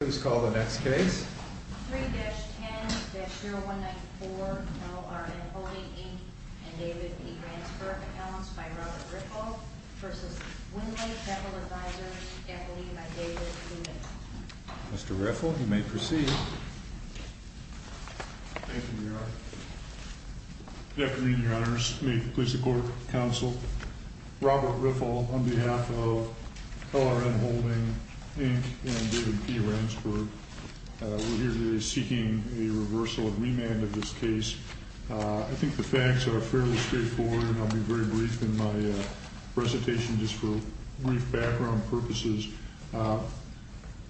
Let's call the next case. 3-10-0194, LRN Holding, Inc., and David P. Ransford, accounts by Robert Riffle versus Windley Petal Advisors, equity by David P. Riffle. Mr. Riffle, you may proceed. Thank you, Your Honor. Good afternoon, Your Honors. May it please the court, counsel, Robert Riffle, on behalf of LRN Holding, Inc., and David P. Ransford, we're here today seeking a reversal and remand of this case. I think the facts are fairly straightforward, and I'll be very brief in my presentation, just for brief background purposes.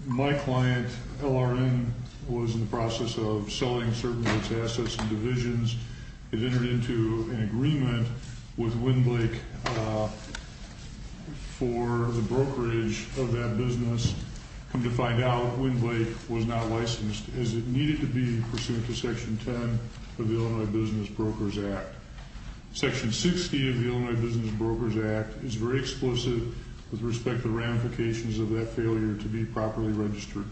My client, LRN, was in the process of selling certain of its assets and divisions. It entered into an agreement with Windley for the brokerage of that business. Come to find out, Windley was not licensed, as it needed to be pursuant to Section 10 of the Illinois Business Brokers Act. Section 60 of the Illinois Business Brokers Act is very explicit with respect to ramifications of that failure to be properly registered.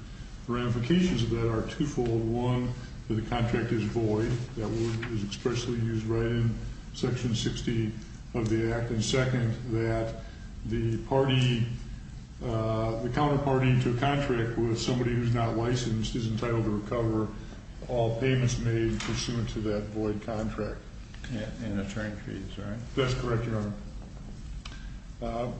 The ramifications of that are twofold. One, that the contract is void. That word is expressly used right in Section 60 of the act. And second, that the counterparty to a contract with somebody who's not licensed is entitled to recover all payments made pursuant to that void contract. And the term fees, right? That's correct, Your Honor.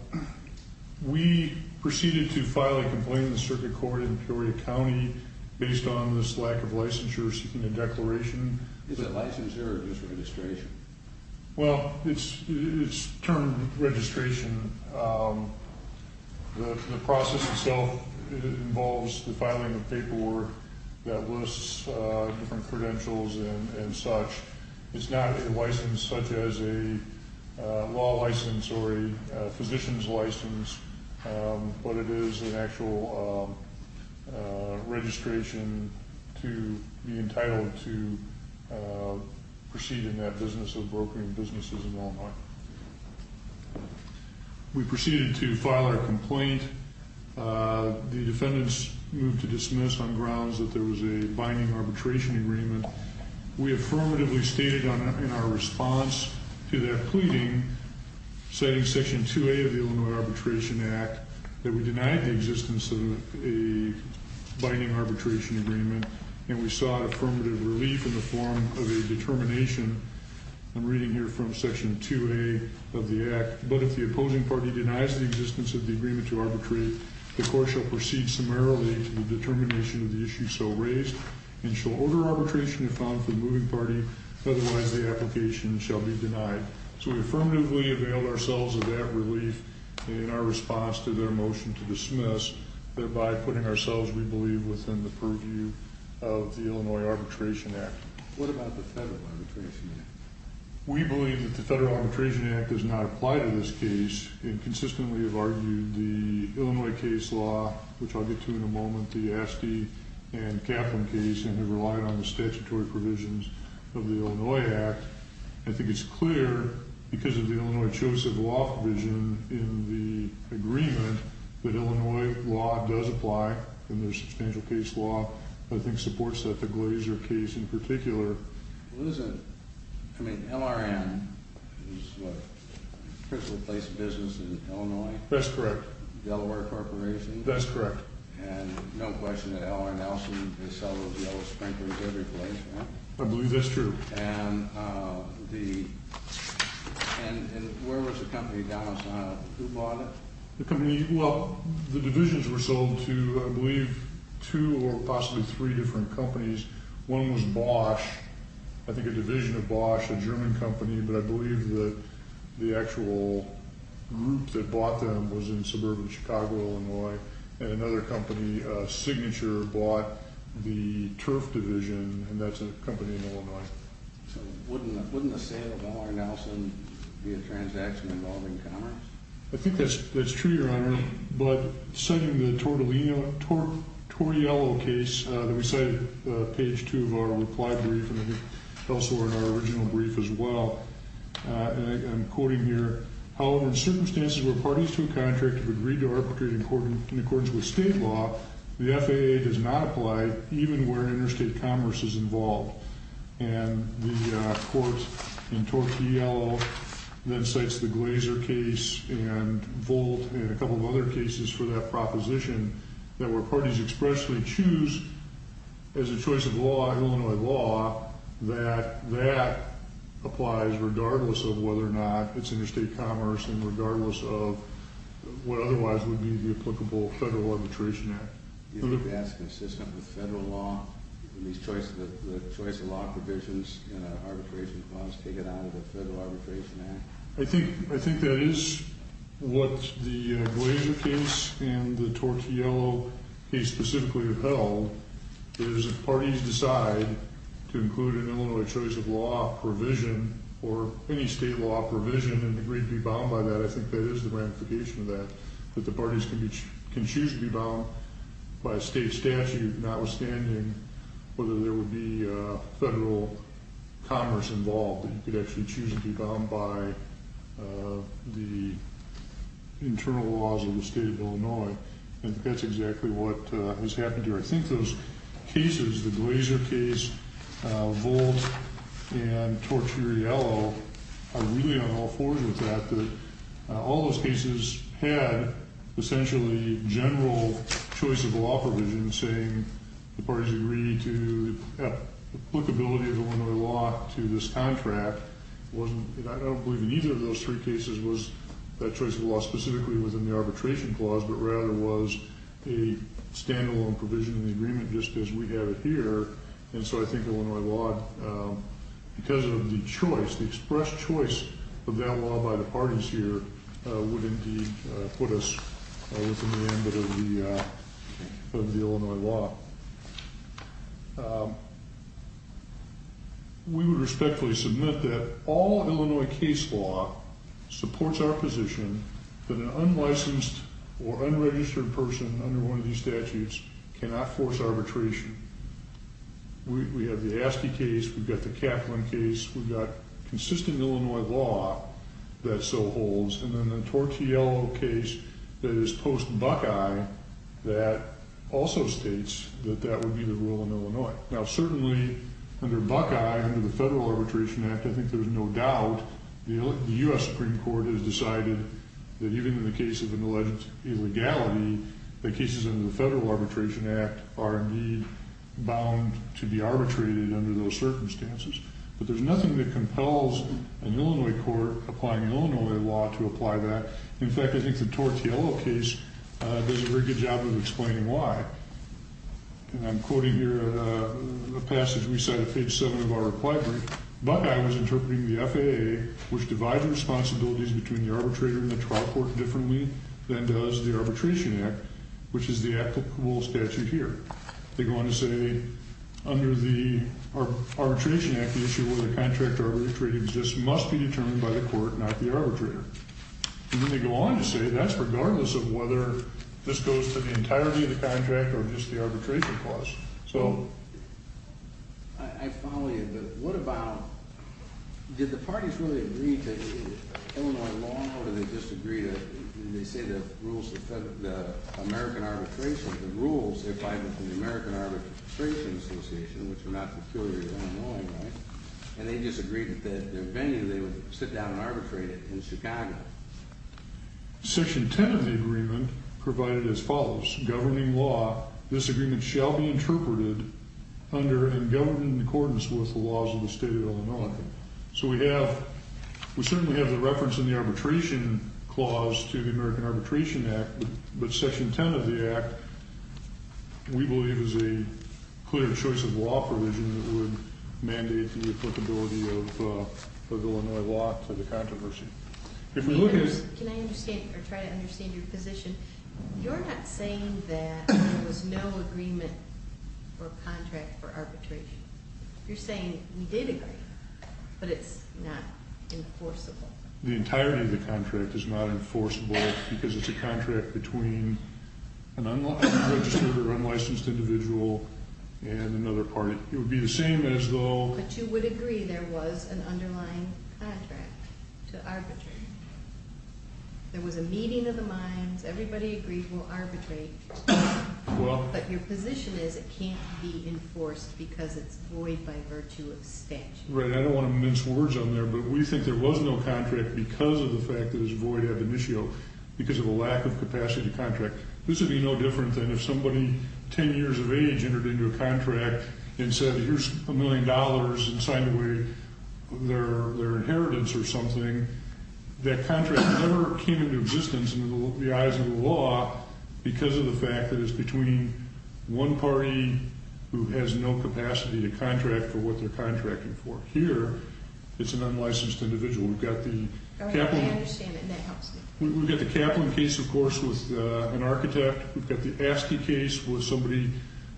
We proceeded to file a complaint in the circuit court in Peoria County based on this lack of licensure seeking a declaration. Is it licensure or just registration? Well, it's termed registration. The process itself involves the filing of paperwork that lists different credentials and such. It's not a license such as a law license or a physician's license, but it is an actual registration to be entitled to proceed in that business of brokering businesses in Illinois. We proceeded to file our complaint. The defendants moved to dismiss on grounds that there was a binding arbitration agreement. We affirmatively stated in our response to their pleading, citing section 2A of the Illinois Arbitration Act, that we denied the existence of a binding arbitration agreement. And we sought affirmative relief in the form of a determination. I'm reading here from section 2A of the act. But if the opposing party denies the existence of the agreement to arbitrate, the court shall proceed summarily to the determination of the issue so raised Otherwise, the application shall be denied. So we affirmatively availed ourselves of that relief in our response to their motion to dismiss, thereby putting ourselves, we believe, within the purview of the Illinois Arbitration Act. What about the Federal Arbitration Act? We believe that the Federal Arbitration Act does not apply to this case and consistently have argued the Illinois case law, which I'll get to in a moment, the Asty and Kaplan case, and have relied on the statutory provisions of the Illinois Act. I think it's clear, because of the Illinois-Joseph Law Provision in the agreement, that Illinois law does apply in their substantial case law. I think supports that the Glazer case in particular. Well, isn't, I mean, LRN is the principal place of business in Illinois. That's correct. Delaware Corporation. That's correct. And no question that LRN also, they sell those yellow sprinklers every place, right? I believe that's true. And the, and where was the company, Dallas-Montana, who bought it? The company, well, the divisions were sold to, I believe, two or possibly three different companies. One was Bosch, I think a division of Bosch, a German company, but I believe that the actual group that bought them was in suburban Chicago, Illinois. And another company, Signature, bought the Turf Division, and that's a company in Illinois. So wouldn't a sale of LRN be a transaction involving commerce? I think that's true, Your Honor, but citing the Tortiello case that we cited, page two of our reply brief, and also in our original brief as well, and I'm quoting here, however, in circumstances where parties to a contract have agreed to arbitrate in accordance with state law, the FAA does not apply, even where interstate commerce is involved. And the court in Tortiello then cites the Glazer case and Volt and a couple of other cases for that proposition that where parties expressly choose as a choice of law, Illinois law, that that applies regardless of whether or not it's interstate commerce and regardless of what otherwise would be the applicable federal arbitration act. Do you think that's consistent with federal law in these choice of law provisions and arbitration laws taken out of the Federal Arbitration Act? I think that is what the Glazer case and the Tortiello case specifically upheld, is if parties decide to include an Illinois choice of law provision or any state law provision and agree to be bound by that, I think that is the ramification of that, that the parties can choose to be bound by a state statute notwithstanding whether there would be a federal commerce involved that you could actually choose to be bound by the internal laws of the state of Illinois. And that's exactly what has happened here. I think those cases, the Glazer case, Volt, and Tortiello are really on all fours with that, that all those cases had essentially general choice of law provision, saying the parties agreed to applicability of Illinois law to this contract. Wasn't, I don't believe in either of those three cases was that choice of law specifically within the arbitration clause, but rather was a standalone provision in the agreement just as we have it here. And so I think Illinois law, because of the choice, the express choice of that law by the parties here would indeed put us within the ambit of the Illinois law. We would respectfully submit that all Illinois case law supports our position that an unlicensed or unregistered person under one of these statutes cannot force arbitration. We have the Askey case, we've got the Kaplan case, we've got consistent Illinois law that so holds, and then the Tortiello case that is post-Buckeye that also states that that would be the rule in Illinois. Now, certainly under Buckeye, under the Federal Arbitration Act, I think there's no doubt the U.S. Supreme Court has decided that even in the case of an alleged illegality, the cases under the Federal Arbitration Act are indeed bound to be arbitrated under those circumstances. But there's nothing that compels an Illinois court applying Illinois law to apply that. In fact, I think the Tortiello case does a very good job of explaining why. And I'm quoting here a passage we cite at page seven of our reply brief. Buckeye was interpreting the FAA, which divides the responsibilities between the arbitrator and the trial court differently than does the Arbitration Act, which is the applicable statute here. They go on to say, under the Arbitration Act, the issue of whether the contract arbitrated exists must be determined by the court, not the arbitrator. And then they go on to say that's regardless of whether this goes to the entirety of the contract or just the arbitration clause. So. I follow you, but what about, did the parties really agree to Illinois law or did they just agree to, did they say the rules of the American arbitration, the rules, if I'm at the American Arbitration Association, which are not peculiar to Illinois, right? And they just agreed that their venue, they would sit down and arbitrate it in Chicago. Section 10 of the agreement provided as follows. Governing law, this agreement shall be interpreted under and governed in accordance with the laws of the state of Illinois. So we have, we certainly have the reference in the arbitration clause to the American Arbitration Act, but section 10 of the act, we believe is a clear choice of law provision that would mandate the applicability of Illinois law to the controversy. If we look at- Can I understand or try to understand your position? You're not saying that there was no agreement or contract for arbitration. You're saying we did agree, but it's not enforceable. The entirety of the contract is not enforceable because it's a contract between an unregistered or unlicensed individual and another party. It would be the same as though- But you would agree there was an underlying contract to arbitrate. There was a meeting of the minds. Everybody agreed we'll arbitrate. But your position is it can't be enforced because it's void by virtue of statute. Right, I don't want to mince words on there, but we think there was no contract because of the fact that it's void ab initio because of a lack of capacity to contract. This would be no different than if somebody 10 years of age entered into a contract and said, here's a million dollars, and signed away their inheritance or something. That contract never came into existence in the eyes of the law because of the fact that it's between one party who has no capacity to contract for what they're contracting for. Here, it's an unlicensed individual. I understand that, and that helps me. We've got the Kaplan case, of course, with an architect. We've got the Askey case with somebody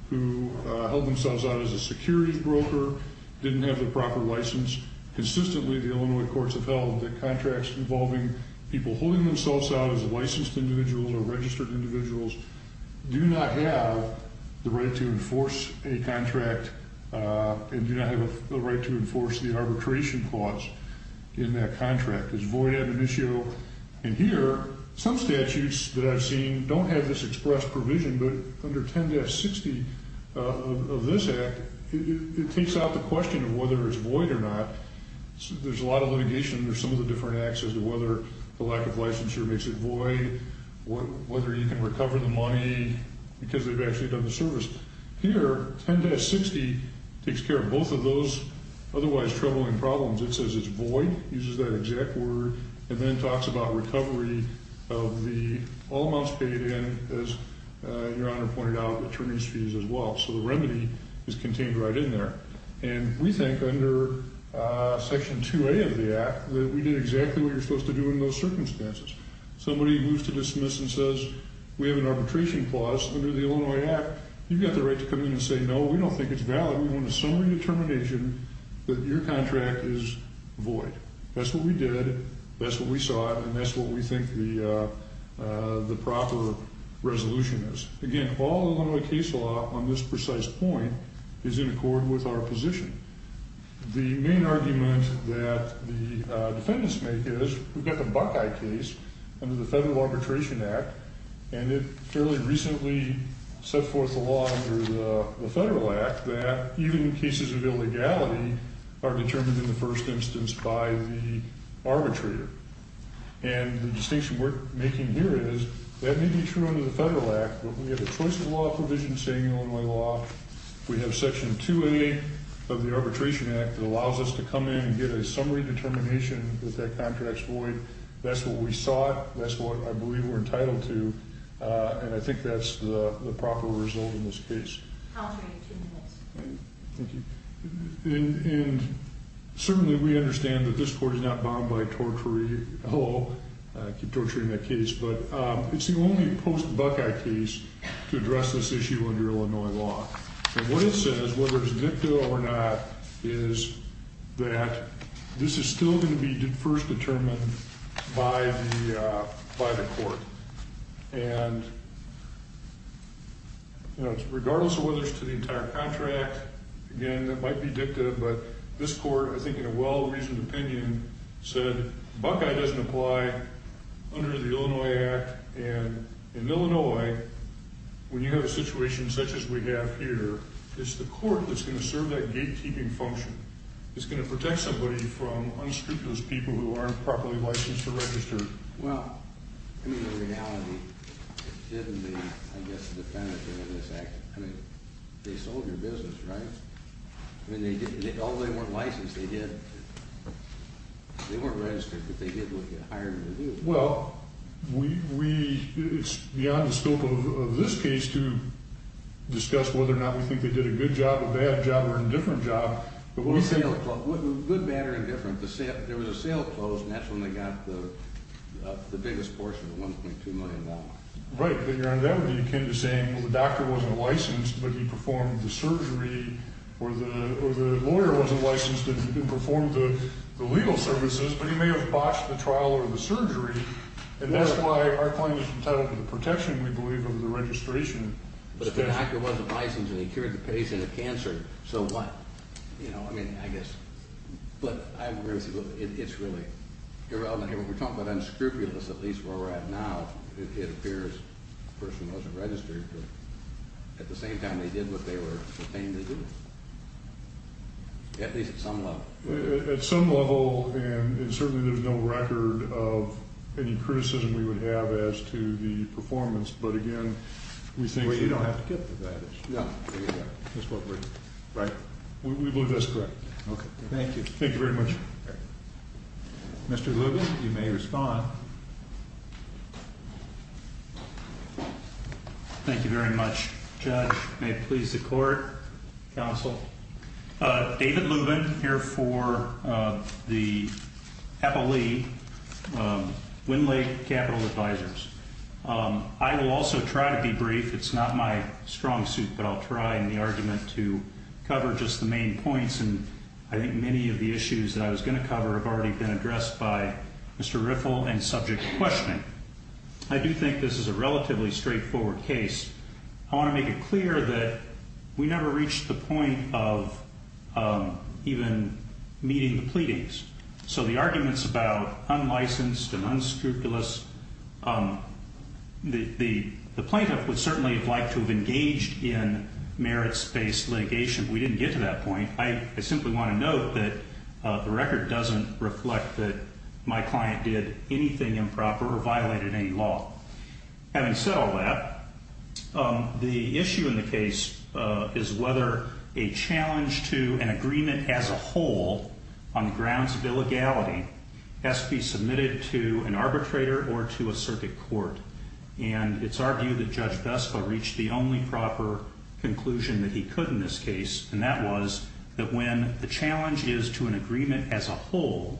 who held themselves out as a securities broker, didn't have the proper license. Consistently, the Illinois courts have held that contracts involving people holding themselves out as licensed individuals or registered individuals do not have the right to enforce a contract and do not have the right to enforce the arbitration clause in that contract. It's void ab initio, and here, some statutes that I've seen don't have this expressed provision, but under 10-60 of this act, it takes out the question of whether it's void or not. There's a lot of litigation under some of the different acts as to whether the lack of licensure makes it void, whether you can recover the money because they've actually done the service. Here, 10-60 takes care of both of those otherwise troubling problems. It says it's void, uses that exact word, and then talks about recovery of the all amounts paid in, as Your Honor pointed out, attorneys' fees as well. So the remedy is contained right in there, and we think under section 2A of the act that we did exactly what you're supposed to do in those circumstances. Somebody moves to dismiss and says, we have an arbitration clause under the Illinois act. You've got the right to come in and say, no, we don't think it's valid. We want a summary determination that your contract is void. That's what we did. That's what we saw, and that's what we think the proper resolution is. Again, all Illinois case law on this precise point is in accord with our position. The main argument that the defendants make is we've got the Buckeye case under the Federal Arbitration Act, and it fairly recently set forth a law under the Federal Act that even in cases of illegality are determined in the first instance by the arbitrator. And the distinction we're making here is that may be true under the Federal Act, but we have a choice of law provision saying Illinois law. We have section 2A of the Arbitration Act that allows us to come in and get a summary determination that that contract's void. That's what we sought. That's what I believe we're entitled to, and I think that's the proper result in this case. Counselor, you have two minutes. Thank you. And certainly we understand that this court is not bound by tortory, hello, I keep torturing that case, but it's the only post-Buckeye case to address this issue under Illinois law. And what it says, whether it's victo or not, is that this is still gonna be first determined by the court. And regardless of whether it's to the entire contract, again, that might be dicta, but this court, I think in a well-reasoned opinion, said Buckeye doesn't apply under the Illinois Act, and in Illinois, when you have a situation such as we have here, it's the court that's gonna serve that gatekeeping function. It's gonna protect somebody from unscrupulous people who aren't properly licensed or registered. Well, I mean, the reality, given the, I guess, the definitive of this act, I mean, they sold your business, right? I mean, although they weren't licensed, they weren't registered, but they did hire you to do it. Well, it's beyond the scope of this case to discuss whether or not we think they did a good job, a bad job, or an indifferent job, but what we think- Good, bad, or indifferent. There was a sale closed, and that's when they got the biggest portion, the $1.2 million. Right, but you're on that, where you came to saying, well, the doctor wasn't licensed, but he performed the surgery, or the lawyer wasn't licensed, and he didn't perform the legal services, but he may have botched the trial or the surgery, and that's why our claim is entitled to the protection, we believe, of the registration. But if the doctor wasn't licensed, and he cured the patient of cancer, so what? You know, I mean, I guess, but I agree with you. It's really irrelevant here. When we're talking about unscrupulous, at least where we're at now, it appears the person wasn't registered, but at the same time, they did what they were contained to do, at least at some level. At some level, and certainly there's no record of any criticism we would have as to the performance, but again, we think- Well, you don't have to get to that issue. No, you don't. That's what we're- Right. We believe that's correct. Okay. Thank you. Thank you very much. Mr. Lubin, you may respond. Thank you very much, Judge. May it please the court, counsel. David Lubin, here for the Apo Lee, Wind Lake Capital Advisors. I will also try to be brief. It's not my strong suit, but I'll try in the argument to cover just the main points, and I think many of the issues that I was gonna cover have already been addressed by Mr. Riffle and subject to questioning. I do think this is a relatively straightforward case. I wanna make it clear that we never reached the point of even meeting the pleadings. So the arguments about unlicensed and unscrupulous, the plaintiff would certainly have liked to have engaged in merits-based litigation. We didn't get to that point. I simply wanna note that the record doesn't reflect that my client did anything improper or violated any law. Having said all that, the issue in the case is whether a challenge to an agreement as a whole on the grounds of illegality has to be submitted to an arbitrator or to a circuit court. And it's argued that Judge Vespa reached the only proper conclusion that he could in this case, and that was that when the challenge is to an agreement as a whole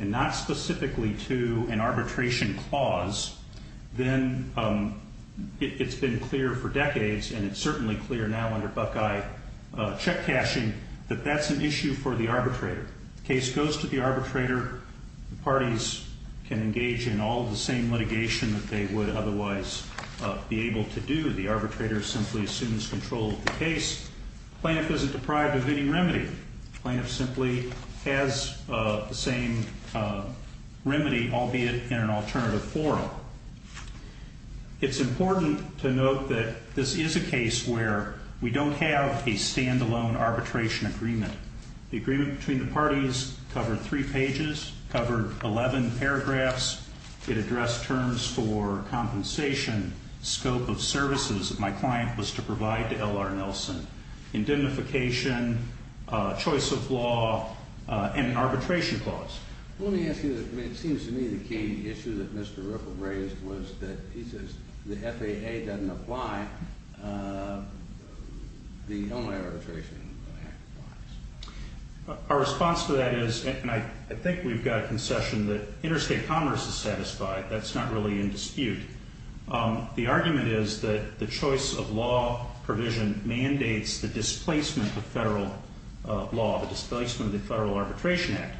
and not specifically to an arbitration clause, then it's been clear for decades, and it's certainly clear now under Buckeye check cashing, that that's an issue for the arbitrator. Case goes to the arbitrator. Parties can engage in all of the same litigation that they would otherwise be able to do. The arbitrator simply assumes control of the case. Plaintiff isn't deprived of any remedy. Plaintiff simply has the same remedy, albeit in an alternative forum. It's important to note that this is a case where we don't have a standalone arbitration agreement. The agreement between the parties covered three pages, covered 11 paragraphs. It addressed terms for compensation, scope of services that my client was to provide to L.R. Nelson, indemnification, choice of law, and arbitration clause. Let me ask you, it seems to me the key issue that Mr. Ripple raised was that he says the FAA doesn't apply, the only arbitration act applies. Our response to that is, and I think we've got a concession That's not really in dispute. The argument is that the choice of law provision mandates the displacement of federal law, the displacement of the Federal Arbitration Act.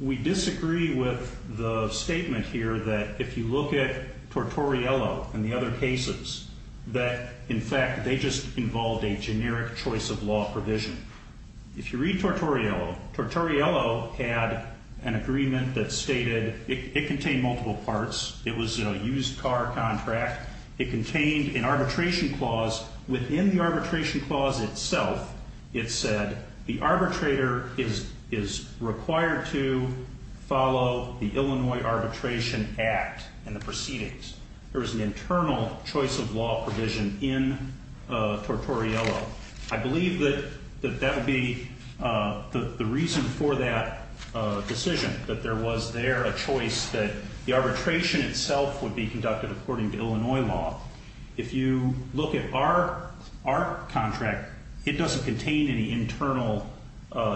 We disagree with the statement here that if you look at Tortoriello and the other cases, that in fact they just involved a generic choice of law provision. If you read Tortoriello, Tortoriello had an agreement that stated, it contained multiple parts. It was a used car contract. It contained an arbitration clause. Within the arbitration clause itself, it said the arbitrator is required to follow the Illinois Arbitration Act and the proceedings. There was an internal choice of law provision in Tortoriello. I believe that that would be the reason for that decision, that there was there a choice that the arbitration itself would be conducted according to Illinois law. If you look at our contract, it doesn't contain any internal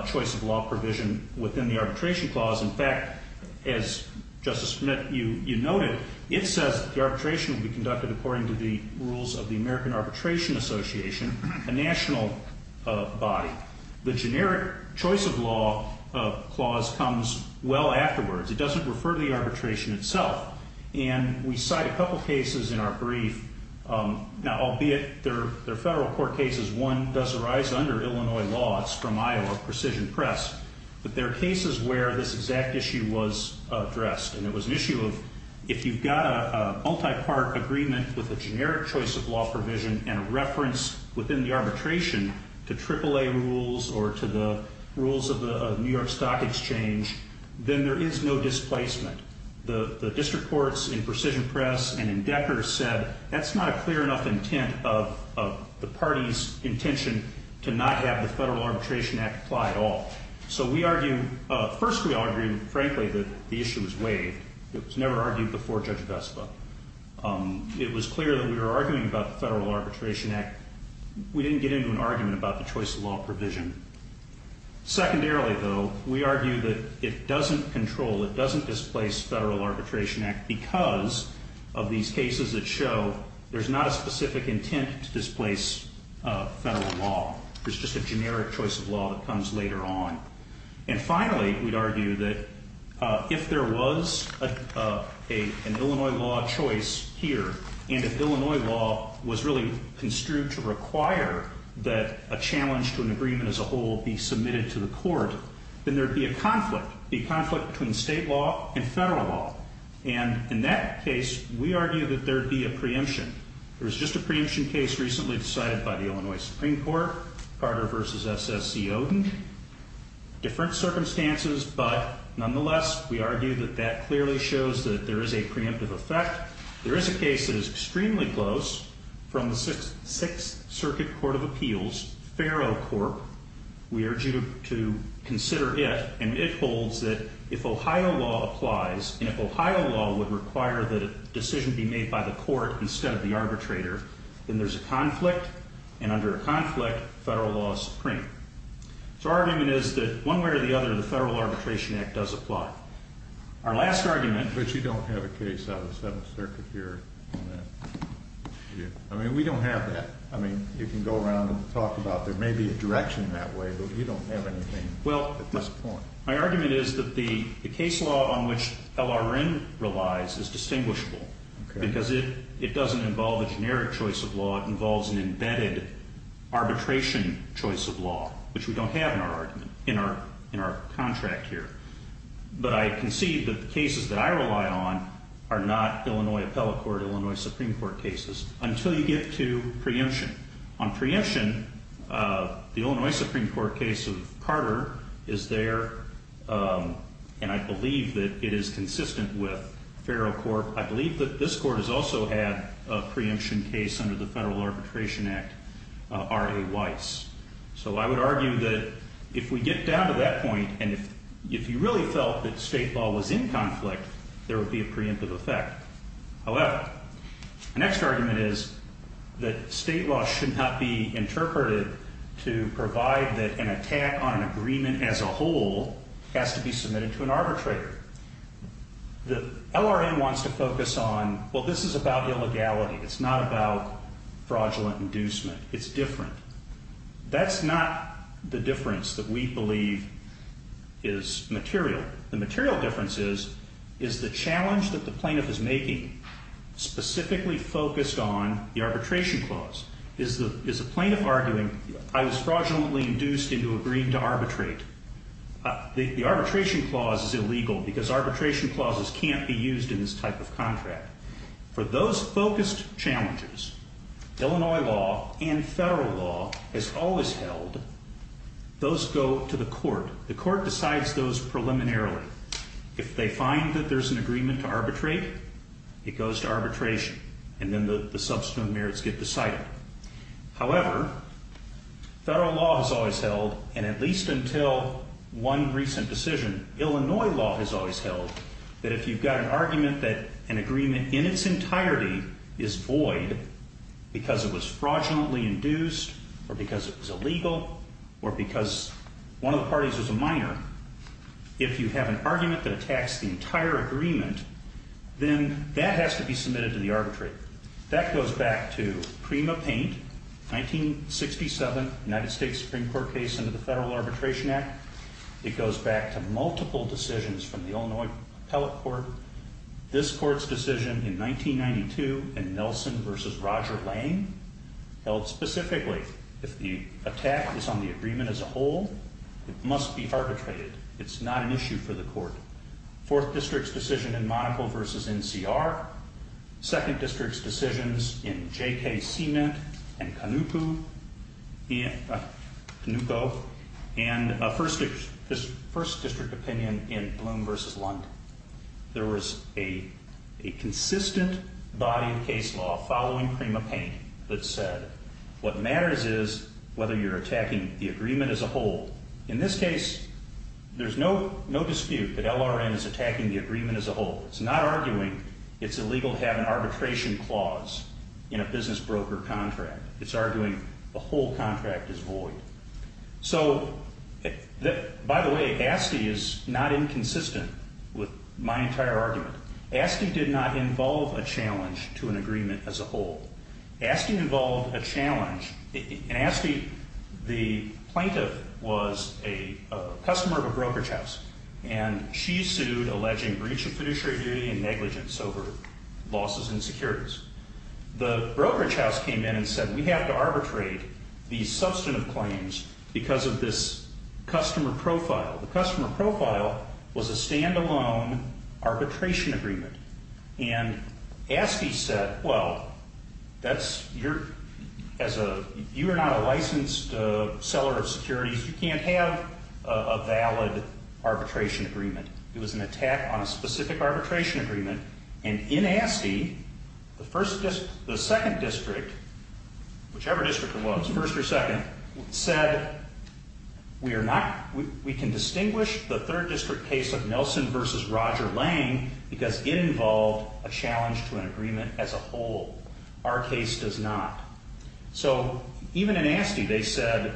choice of law provision within the arbitration clause. In fact, as Justice Smith, you noted, it says the arbitration will be conducted according to the rules of the American Arbitration Association, a national body. The generic choice of law clause comes well afterwards. It doesn't refer to the arbitration itself. And we cite a couple cases in our brief. Now, albeit they're federal court cases, one does arise under Illinois law. It's from Iowa Precision Press. But there are cases where this exact issue was addressed. And it was an issue of, if you've got a multi-part agreement with a generic choice of law provision and a reference within the arbitration to AAA rules or to the rules of the New York Stock Exchange, then there is no displacement. The district courts in Precision Press and in Decker said, that's not a clear enough intent of the party's intention to not have the Federal Arbitration Act apply at all. So we argue, first we argue, frankly, that the issue was waived. It was never argued before Judge Vespa. It was clear that we were arguing about the Federal Arbitration Act. We didn't get into an argument about the choice of law provision. Secondarily, though, we argue that it doesn't control, it doesn't displace Federal Arbitration Act because of these cases that show there's not a specific intent to displace federal law. There's just a generic choice of law that comes later on. And finally, we'd argue that if there was an Illinois law choice here, and if Illinois law was really construed to require that a challenge to an agreement as a whole be submitted to the court, then there'd be a conflict, be a conflict between state law and federal law. And in that case, we argue that there'd be a preemption. There was just a preemption case recently decided by the Illinois Supreme Court, Carter versus S.S.C. Oden. Different circumstances, but nonetheless, we argue that that clearly shows that there is a preemptive effect. There is a case that is extremely close from the Sixth Circuit Court of Appeals, Faro Corp. We urge you to consider it, and it holds that if Ohio law applies, and if Ohio law would require that a decision be made by the court instead of the arbitrator, then there's a conflict, and under a conflict, federal law is supreme. So our argument is that one way or the other, the Federal Arbitration Act does apply. Our last argument, which you don't have a case of, let's have a circuit here. I mean, we don't have that. I mean, you can go around and talk about, there may be a direction that way, but we don't have anything at this point. My argument is that the case law on which LRN relies is distinguishable, because it doesn't involve a generic choice of law. It involves an embedded arbitration choice of law, which we don't have in our argument, in our contract here. But I concede that the cases that I rely on are not Illinois appellate court, Illinois Supreme Court cases, until you get to preemption. On preemption, the Illinois Supreme Court case of Carter is there, and I believe that it is consistent with federal court. I believe that this court has also had a preemption case under the Federal Arbitration Act, R.A. Weiss. So I would argue that if we get down to that point, and if you really felt that state law was in conflict, there would be a preemptive effect. However, the next argument is that state law should not be interpreted to provide that an attack on an agreement as a whole has to be submitted to an arbitrator. The LRN wants to focus on, well, this is about illegality. It's not about fraudulent inducement. It's different. That's not the difference that we believe is material. The material difference is, is the challenge that the plaintiff is making specifically focused on the arbitration clause. Is the plaintiff arguing, I was fraudulently induced into agreeing to arbitrate. The arbitration clause is illegal because arbitration clauses can't be used in this type of contract. For those focused challenges, Illinois law and federal law has always held, those go to the court. The court decides those preliminarily. If they find that there's an agreement to arbitrate, it goes to arbitration, and then the substituent merits get decided. However, federal law has always held, and at least until one recent decision, Illinois law has always held, that if you've got an argument that an agreement in its entirety is void because it was fraudulently induced or because it was illegal or because one of the parties was a minor, if you have an argument that attacks the entire agreement, then that has to be submitted to the arbitrate. That goes back to Prima Paint, 1967 United States Supreme Court case under the Federal Arbitration Act. It goes back to multiple decisions from the Illinois Appellate Court. This court's decision in 1992 in Nelson versus Roger Lane held specifically if the attack is on the agreement as a whole, it must be arbitrated. It's not an issue for the court. Fourth district's decision in Monaco versus NCR, second district's decisions in J.K. Cement and Canuco, and first district opinion in Bloom versus Lund. There was a consistent body of case law following Prima Paint that said, what matters is whether you're attacking the agreement as a whole. In this case, there's no dispute that LRN is attacking the agreement as a whole. It's not arguing it's illegal to have an arbitration clause in a business broker contract. It's arguing the whole contract is void. So, by the way, ASTI is not inconsistent with my entire argument. ASTI did not involve a challenge to an agreement as a whole. ASTI involved a challenge. In ASTI, the plaintiff was a customer of a brokerage house and she sued alleging breach of fiduciary duty and negligence over losses and securities. The brokerage house came in and said, we have to arbitrate these substantive claims because of this customer profile. The customer profile was a standalone arbitration agreement and ASTI said, well, you are not a licensed seller of securities. You can't have a valid arbitration agreement. It was an attack on a specific arbitration agreement and in ASTI, the second district, whichever district it was, first or second, said we can distinguish the third district case of Nelson versus Roger Lang because it involved a challenge to an agreement as a whole. Our case does not. So, even in ASTI, they said,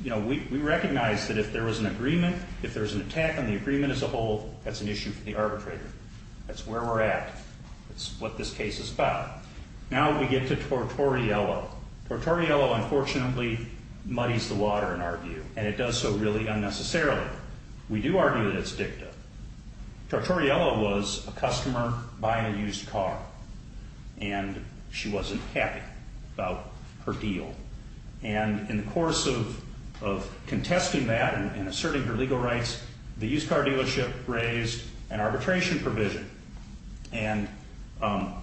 you know, we recognize that if there was an agreement, if there was an attack on the agreement as a whole, that's an issue for the arbitrator. That's where we're at. That's what this case is about. Now we get to Tortoriello. Tortoriello, unfortunately, muddies the water in our view and it does so really unnecessarily. We do argue that it's dicta. Tortoriello was a customer buying a used car and she wasn't happy about her deal. And in the course of contesting that and asserting her legal rights, the used car dealership raised an arbitration provision. And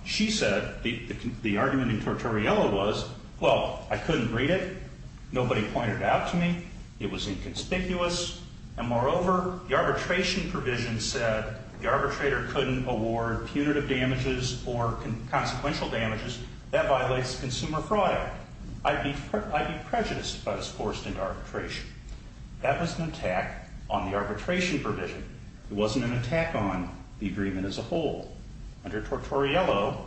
she said, the argument in Tortoriello was, well, I couldn't read it. Nobody pointed it out to me. It was inconspicuous. And moreover, the arbitration provision said the arbitrator couldn't award punitive damages or consequential damages. That violates consumer fraud. I'd be prejudiced if I was forced into arbitration. That was an attack on the arbitration provision. It wasn't an attack on the agreement as a whole. Under Tortoriello,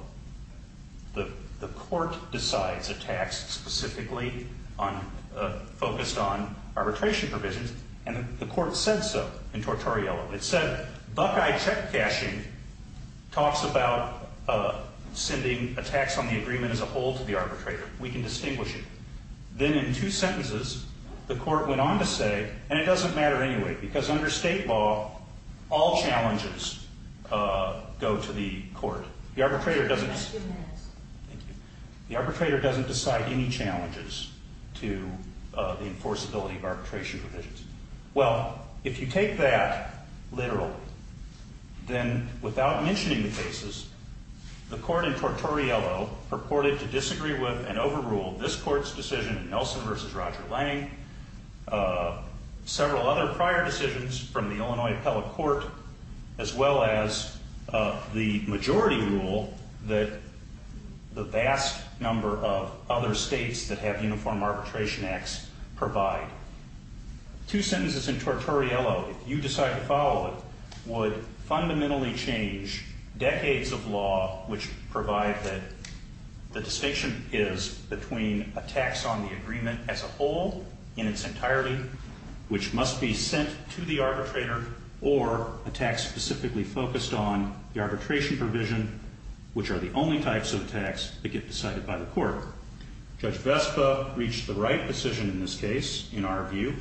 the court decides a tax specifically focused on arbitration provisions. And the court said so in Tortoriello. It said, Buckeye check cashing talks about sending a tax on the agreement as a whole to the arbitrator. We can distinguish it. Then in two sentences, the court went on to say, and it doesn't matter anyway, because under state law, all challenges go to the court. The arbitrator doesn't. Thank you. The arbitrator doesn't decide any challenges to the enforceability of arbitration provisions. Well, if you take that literally, then without mentioning the cases, the court in Tortoriello purported to disagree with and overrule this court's decision in Nelson versus Roger Lang, several other prior decisions from the Illinois appellate court, as well as the majority rule that the vast number of other states that have uniform arbitration acts provide. Two sentences in Tortoriello, if you decide to follow it, would fundamentally change decades of law, which provide that the distinction is between a tax on the agreement as a whole in its entirety, which must be sent to the arbitrator, or a tax specifically focused on the arbitration provision, which are the only types of tax that get decided by the court. Judge Vespa reached the right decision in this case, in our view.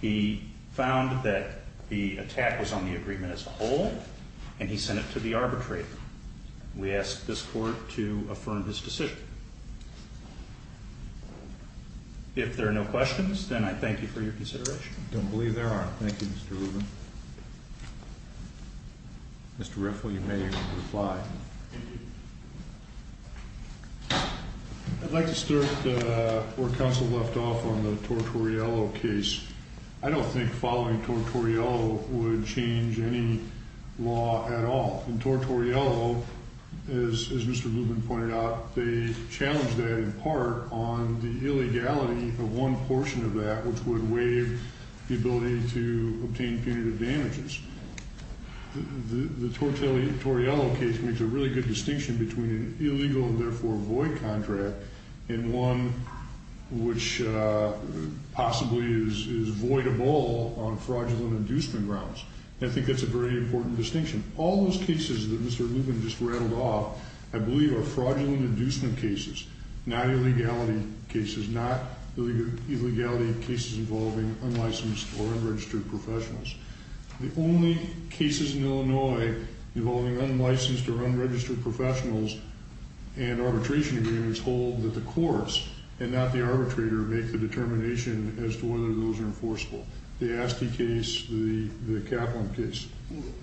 He found that the attack was on the agreement as a whole, and he sent it to the arbitrator. We ask this court to affirm his decision. If there are no questions, then I thank you for your consideration. I don't believe there are. Thank you, Mr. Rubin. Mr. Riffle, you may reply. I'd like to start where counsel left off on the Tortoriello case. I don't think following Tortoriello would change any law at all. In Tortoriello, as Mr. Rubin pointed out, they challenged that, in part, on the illegality of one portion of that, which would waive the ability to obtain punitive damages. The Tortoriello case makes a really good distinction between an illegal and therefore void contract, and one which possibly is voidable on fraudulent inducement grounds. I think that's a very important distinction. All those cases that Mr. Rubin just rattled off, I believe, are fraudulent inducement cases, not illegality cases, not illegality cases involving unlicensed or unregistered professionals. The only cases in Illinois involving unlicensed or unregistered professionals and arbitration agreements hold that the courts, and not the arbitrator, make the determination as to whether those are enforceable. The Asti case, the Kaplan case.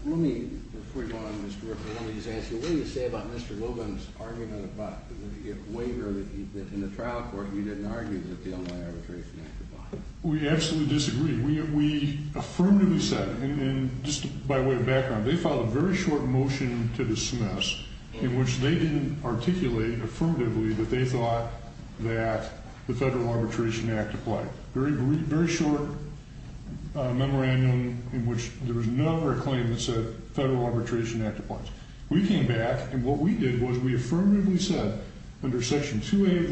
Let me, before you go on, Mr. Riffle, let me just ask you, what do you say about Mr. Logan's argument about the waiver that, in the trial court, he didn't argue that the Illinois Arbitration Act applies? We absolutely disagree. We affirmatively said, and just by way of background, they filed a very short motion to dismiss in which they didn't articulate affirmatively that they thought that the Federal Arbitration Act applied. Very short memorandum in which there was never a claim that said Federal Arbitration Act applies. We came back, and what we did was we affirmatively said, under Section 2A of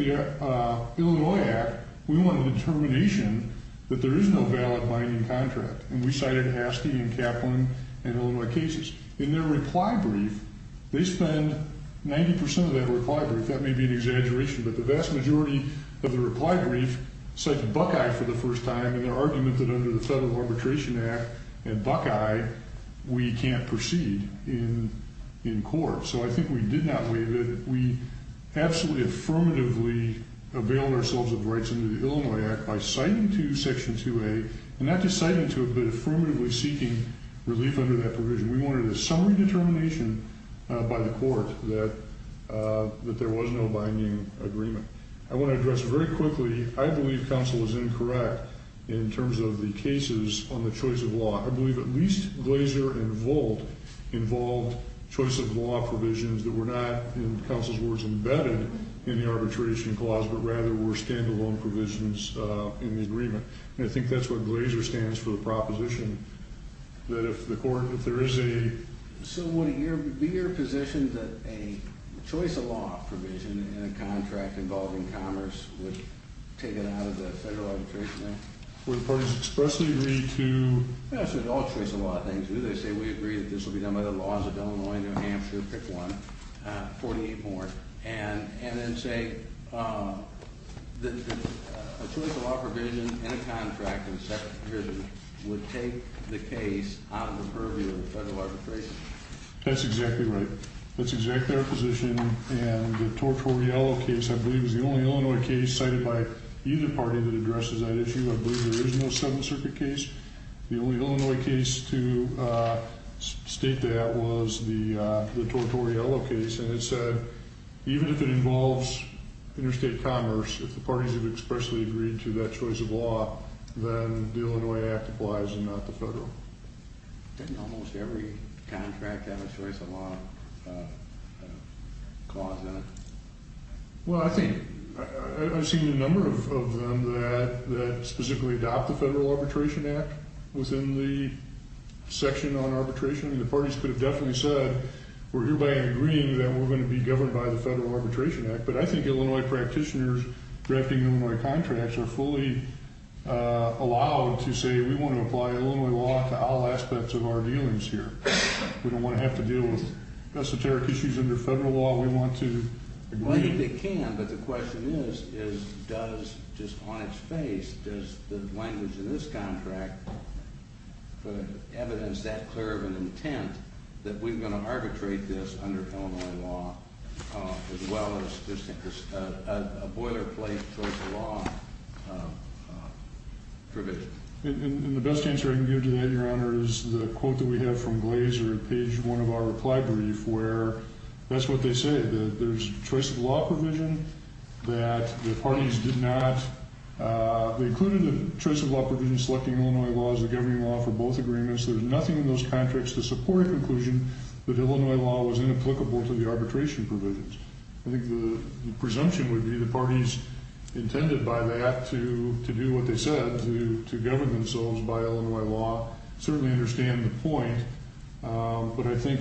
the Illinois Act, we want a determination that there is no valid binding contract. And we cited Asti and Kaplan and Illinois cases. In their reply brief, they spend 90% of that reply brief. That may be an exaggeration, but the vast majority of the reply brief cited Buckeye for the first time in their argument that under the Federal Arbitration Act and Buckeye, we can't proceed in court. So I think we did not waive it. We absolutely affirmatively availed ourselves of the rights under the Illinois Act by citing to Section 2A and not just citing to it, but affirmatively seeking relief under that provision. We wanted a summary determination by the court that there was no binding agreement. I want to address very quickly, I believe counsel was incorrect in terms of the cases on the choice of law. I believe at least Glazer involved choice of law provisions that were not, in counsel's words, embedded in the arbitration clause, but rather were stand-alone provisions in the agreement. And I think that's what Glazer stands for, the proposition that if the court, if there is a... So would it be your position that a choice of law provision in a contract involving commerce would take it out of the Federal Arbitration Act? Would the parties expressly agree to... Yeah, so it's all choice of law things, do they say we agree that this will be done by the laws of Illinois, New Hampshire, pick one, 48 more, and then say that a choice of law provision in a contract would take the case out of the purview of the Federal Arbitration Act? That's exactly right. That's exactly our position, and the Tortorello case, I believe, is the only Illinois case cited by either party that addresses that issue. I believe there is no Seventh Circuit case. The only Illinois case to state that was the Tortorello case, and it said, even if it involves interstate commerce, if the parties have expressly agreed to that choice of law, then the Illinois Act applies, and not the Federal. Didn't almost every contract have a choice of law clause in it? Well, I think, I've seen a number of them that specifically adopt the Federal Arbitration Act within the section on arbitration, and the parties could have definitely said, we're hereby agreeing that we're gonna be governed by the Federal Arbitration Act, but I think Illinois practitioners drafting Illinois contracts are fully allowed to say, we wanna apply Illinois law to all aspects of our dealings here. We don't wanna have to deal with esoteric issues under Federal law, we want to agree. Well, I think they can, but the question is, does, just on its face, does the language in this contract put evidence that clear of an intent that we're gonna arbitrate this under Illinois law, as well as just a boilerplate choice of law provision? And the best answer I can give to that, Your Honor, is the quote that we have from Glazer in page one of our reply brief, where, that's what they say, that there's choice of law provision, that the parties did not, they included a choice of law provision selecting Illinois law as the governing law for both agreements, there's nothing in those contracts to support a conclusion that Illinois law was inapplicable to the arbitration provisions. I think the presumption would be the parties intended by that to do what they said, to govern themselves by Illinois law, certainly understand the point, but I think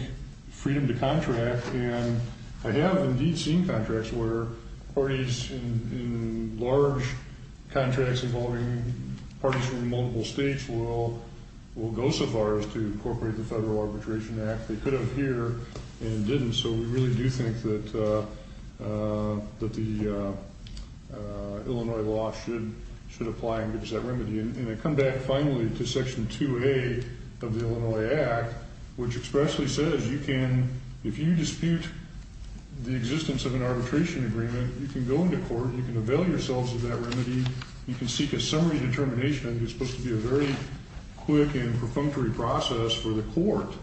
freedom to contract, and I have indeed seen contracts where parties in large contracts involving parties from multiple states will go so far as to incorporate the Federal Arbitration Act. They could have here, and didn't, so we really do think that the Illinois law should apply and give us that remedy. And I come back, finally, to section 2A of the Illinois Act, which expressly says you can, if you dispute the existence of an arbitration agreement, you can go into court, you can avail yourselves of that remedy, you can seek a summary determination, I think it's supposed to be a very quick and perfunctory process for the court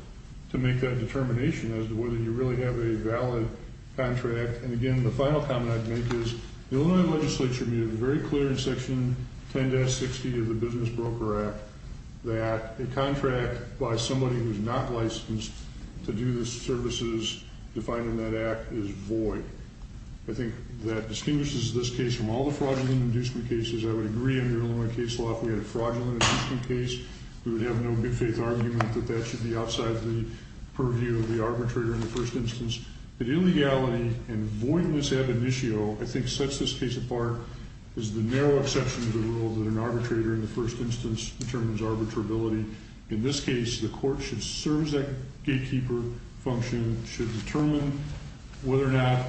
to make that determination as to whether you really have a valid contract. And again, the final comment I'd make is, the Illinois legislature made it very clear in section 10-60 of the Business Broker Act that a contract by somebody who's not licensed to do the services defined in that act is void. I think that distinguishes this case from all the fraudulent inducement cases. I would agree under Illinois case law, if we had a fraudulent inducement case, we would have no big faith argument that that should be outside the purview of the arbitrator in the first instance. But illegality and voidness ad initio, I think sets this case apart, is the narrow exception to the rule that an arbitrator in the first instance determines arbitrability. In this case, the court should serve that gatekeeper function, should determine whether or not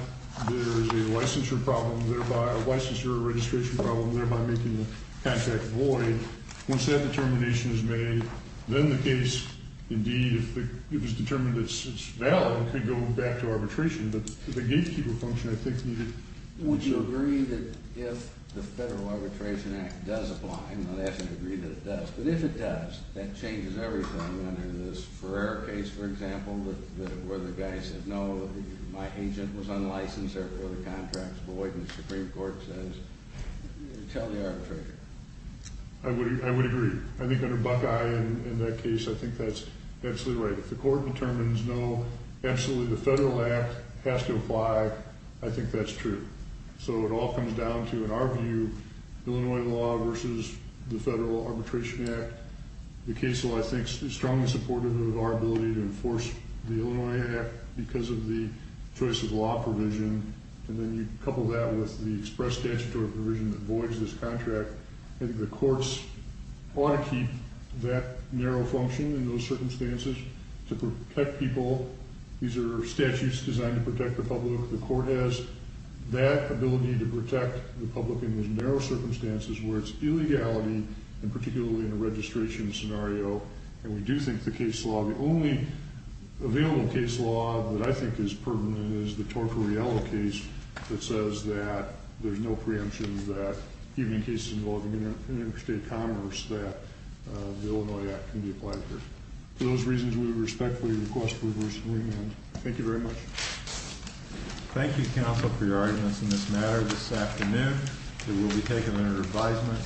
there is a licensure problem, thereby a licensure registration problem, thereby making the contract void. Once that determination is made, then the case, indeed, if it was determined that it's valid, could go back to arbitration. But the gatekeeper function, I think, needed. Would you agree that if the Federal Arbitration Act does apply, I'm not asking to agree that it does, but if it does, that changes everything under this Ferrer case, for example, where the guy said, no, my agent was unlicensed, therefore the contract's void, and the Supreme Court says, tell the arbitrator. I would agree. I think under Buckeye in that case, I think that's absolutely right. If the court determines, no, absolutely, the Federal Act has to apply, I think that's true. So it all comes down to, in our view, Illinois law versus the Federal Arbitration Act. The case law, I think, is strongly supportive of our ability to enforce the Illinois Act because of the choice of law provision, and then you couple that with the express statutory provision that voids this contract, and the courts ought to keep that narrow function in those circumstances to protect people. These are statutes designed to protect the public. The court has that ability to protect the public in those narrow circumstances where it's illegality, and particularly in a registration scenario, and we do think the case law, the only available case law that I think is permanent is the Tortorello case that says that there's no preemptions that, even in cases involving interstate commerce, that the Illinois Act can be applied here. For those reasons, we respectfully request that we receive an amendment. Thank you very much. Thank you, counsel, for your arguments in this matter this afternoon. There will be taken under advisement.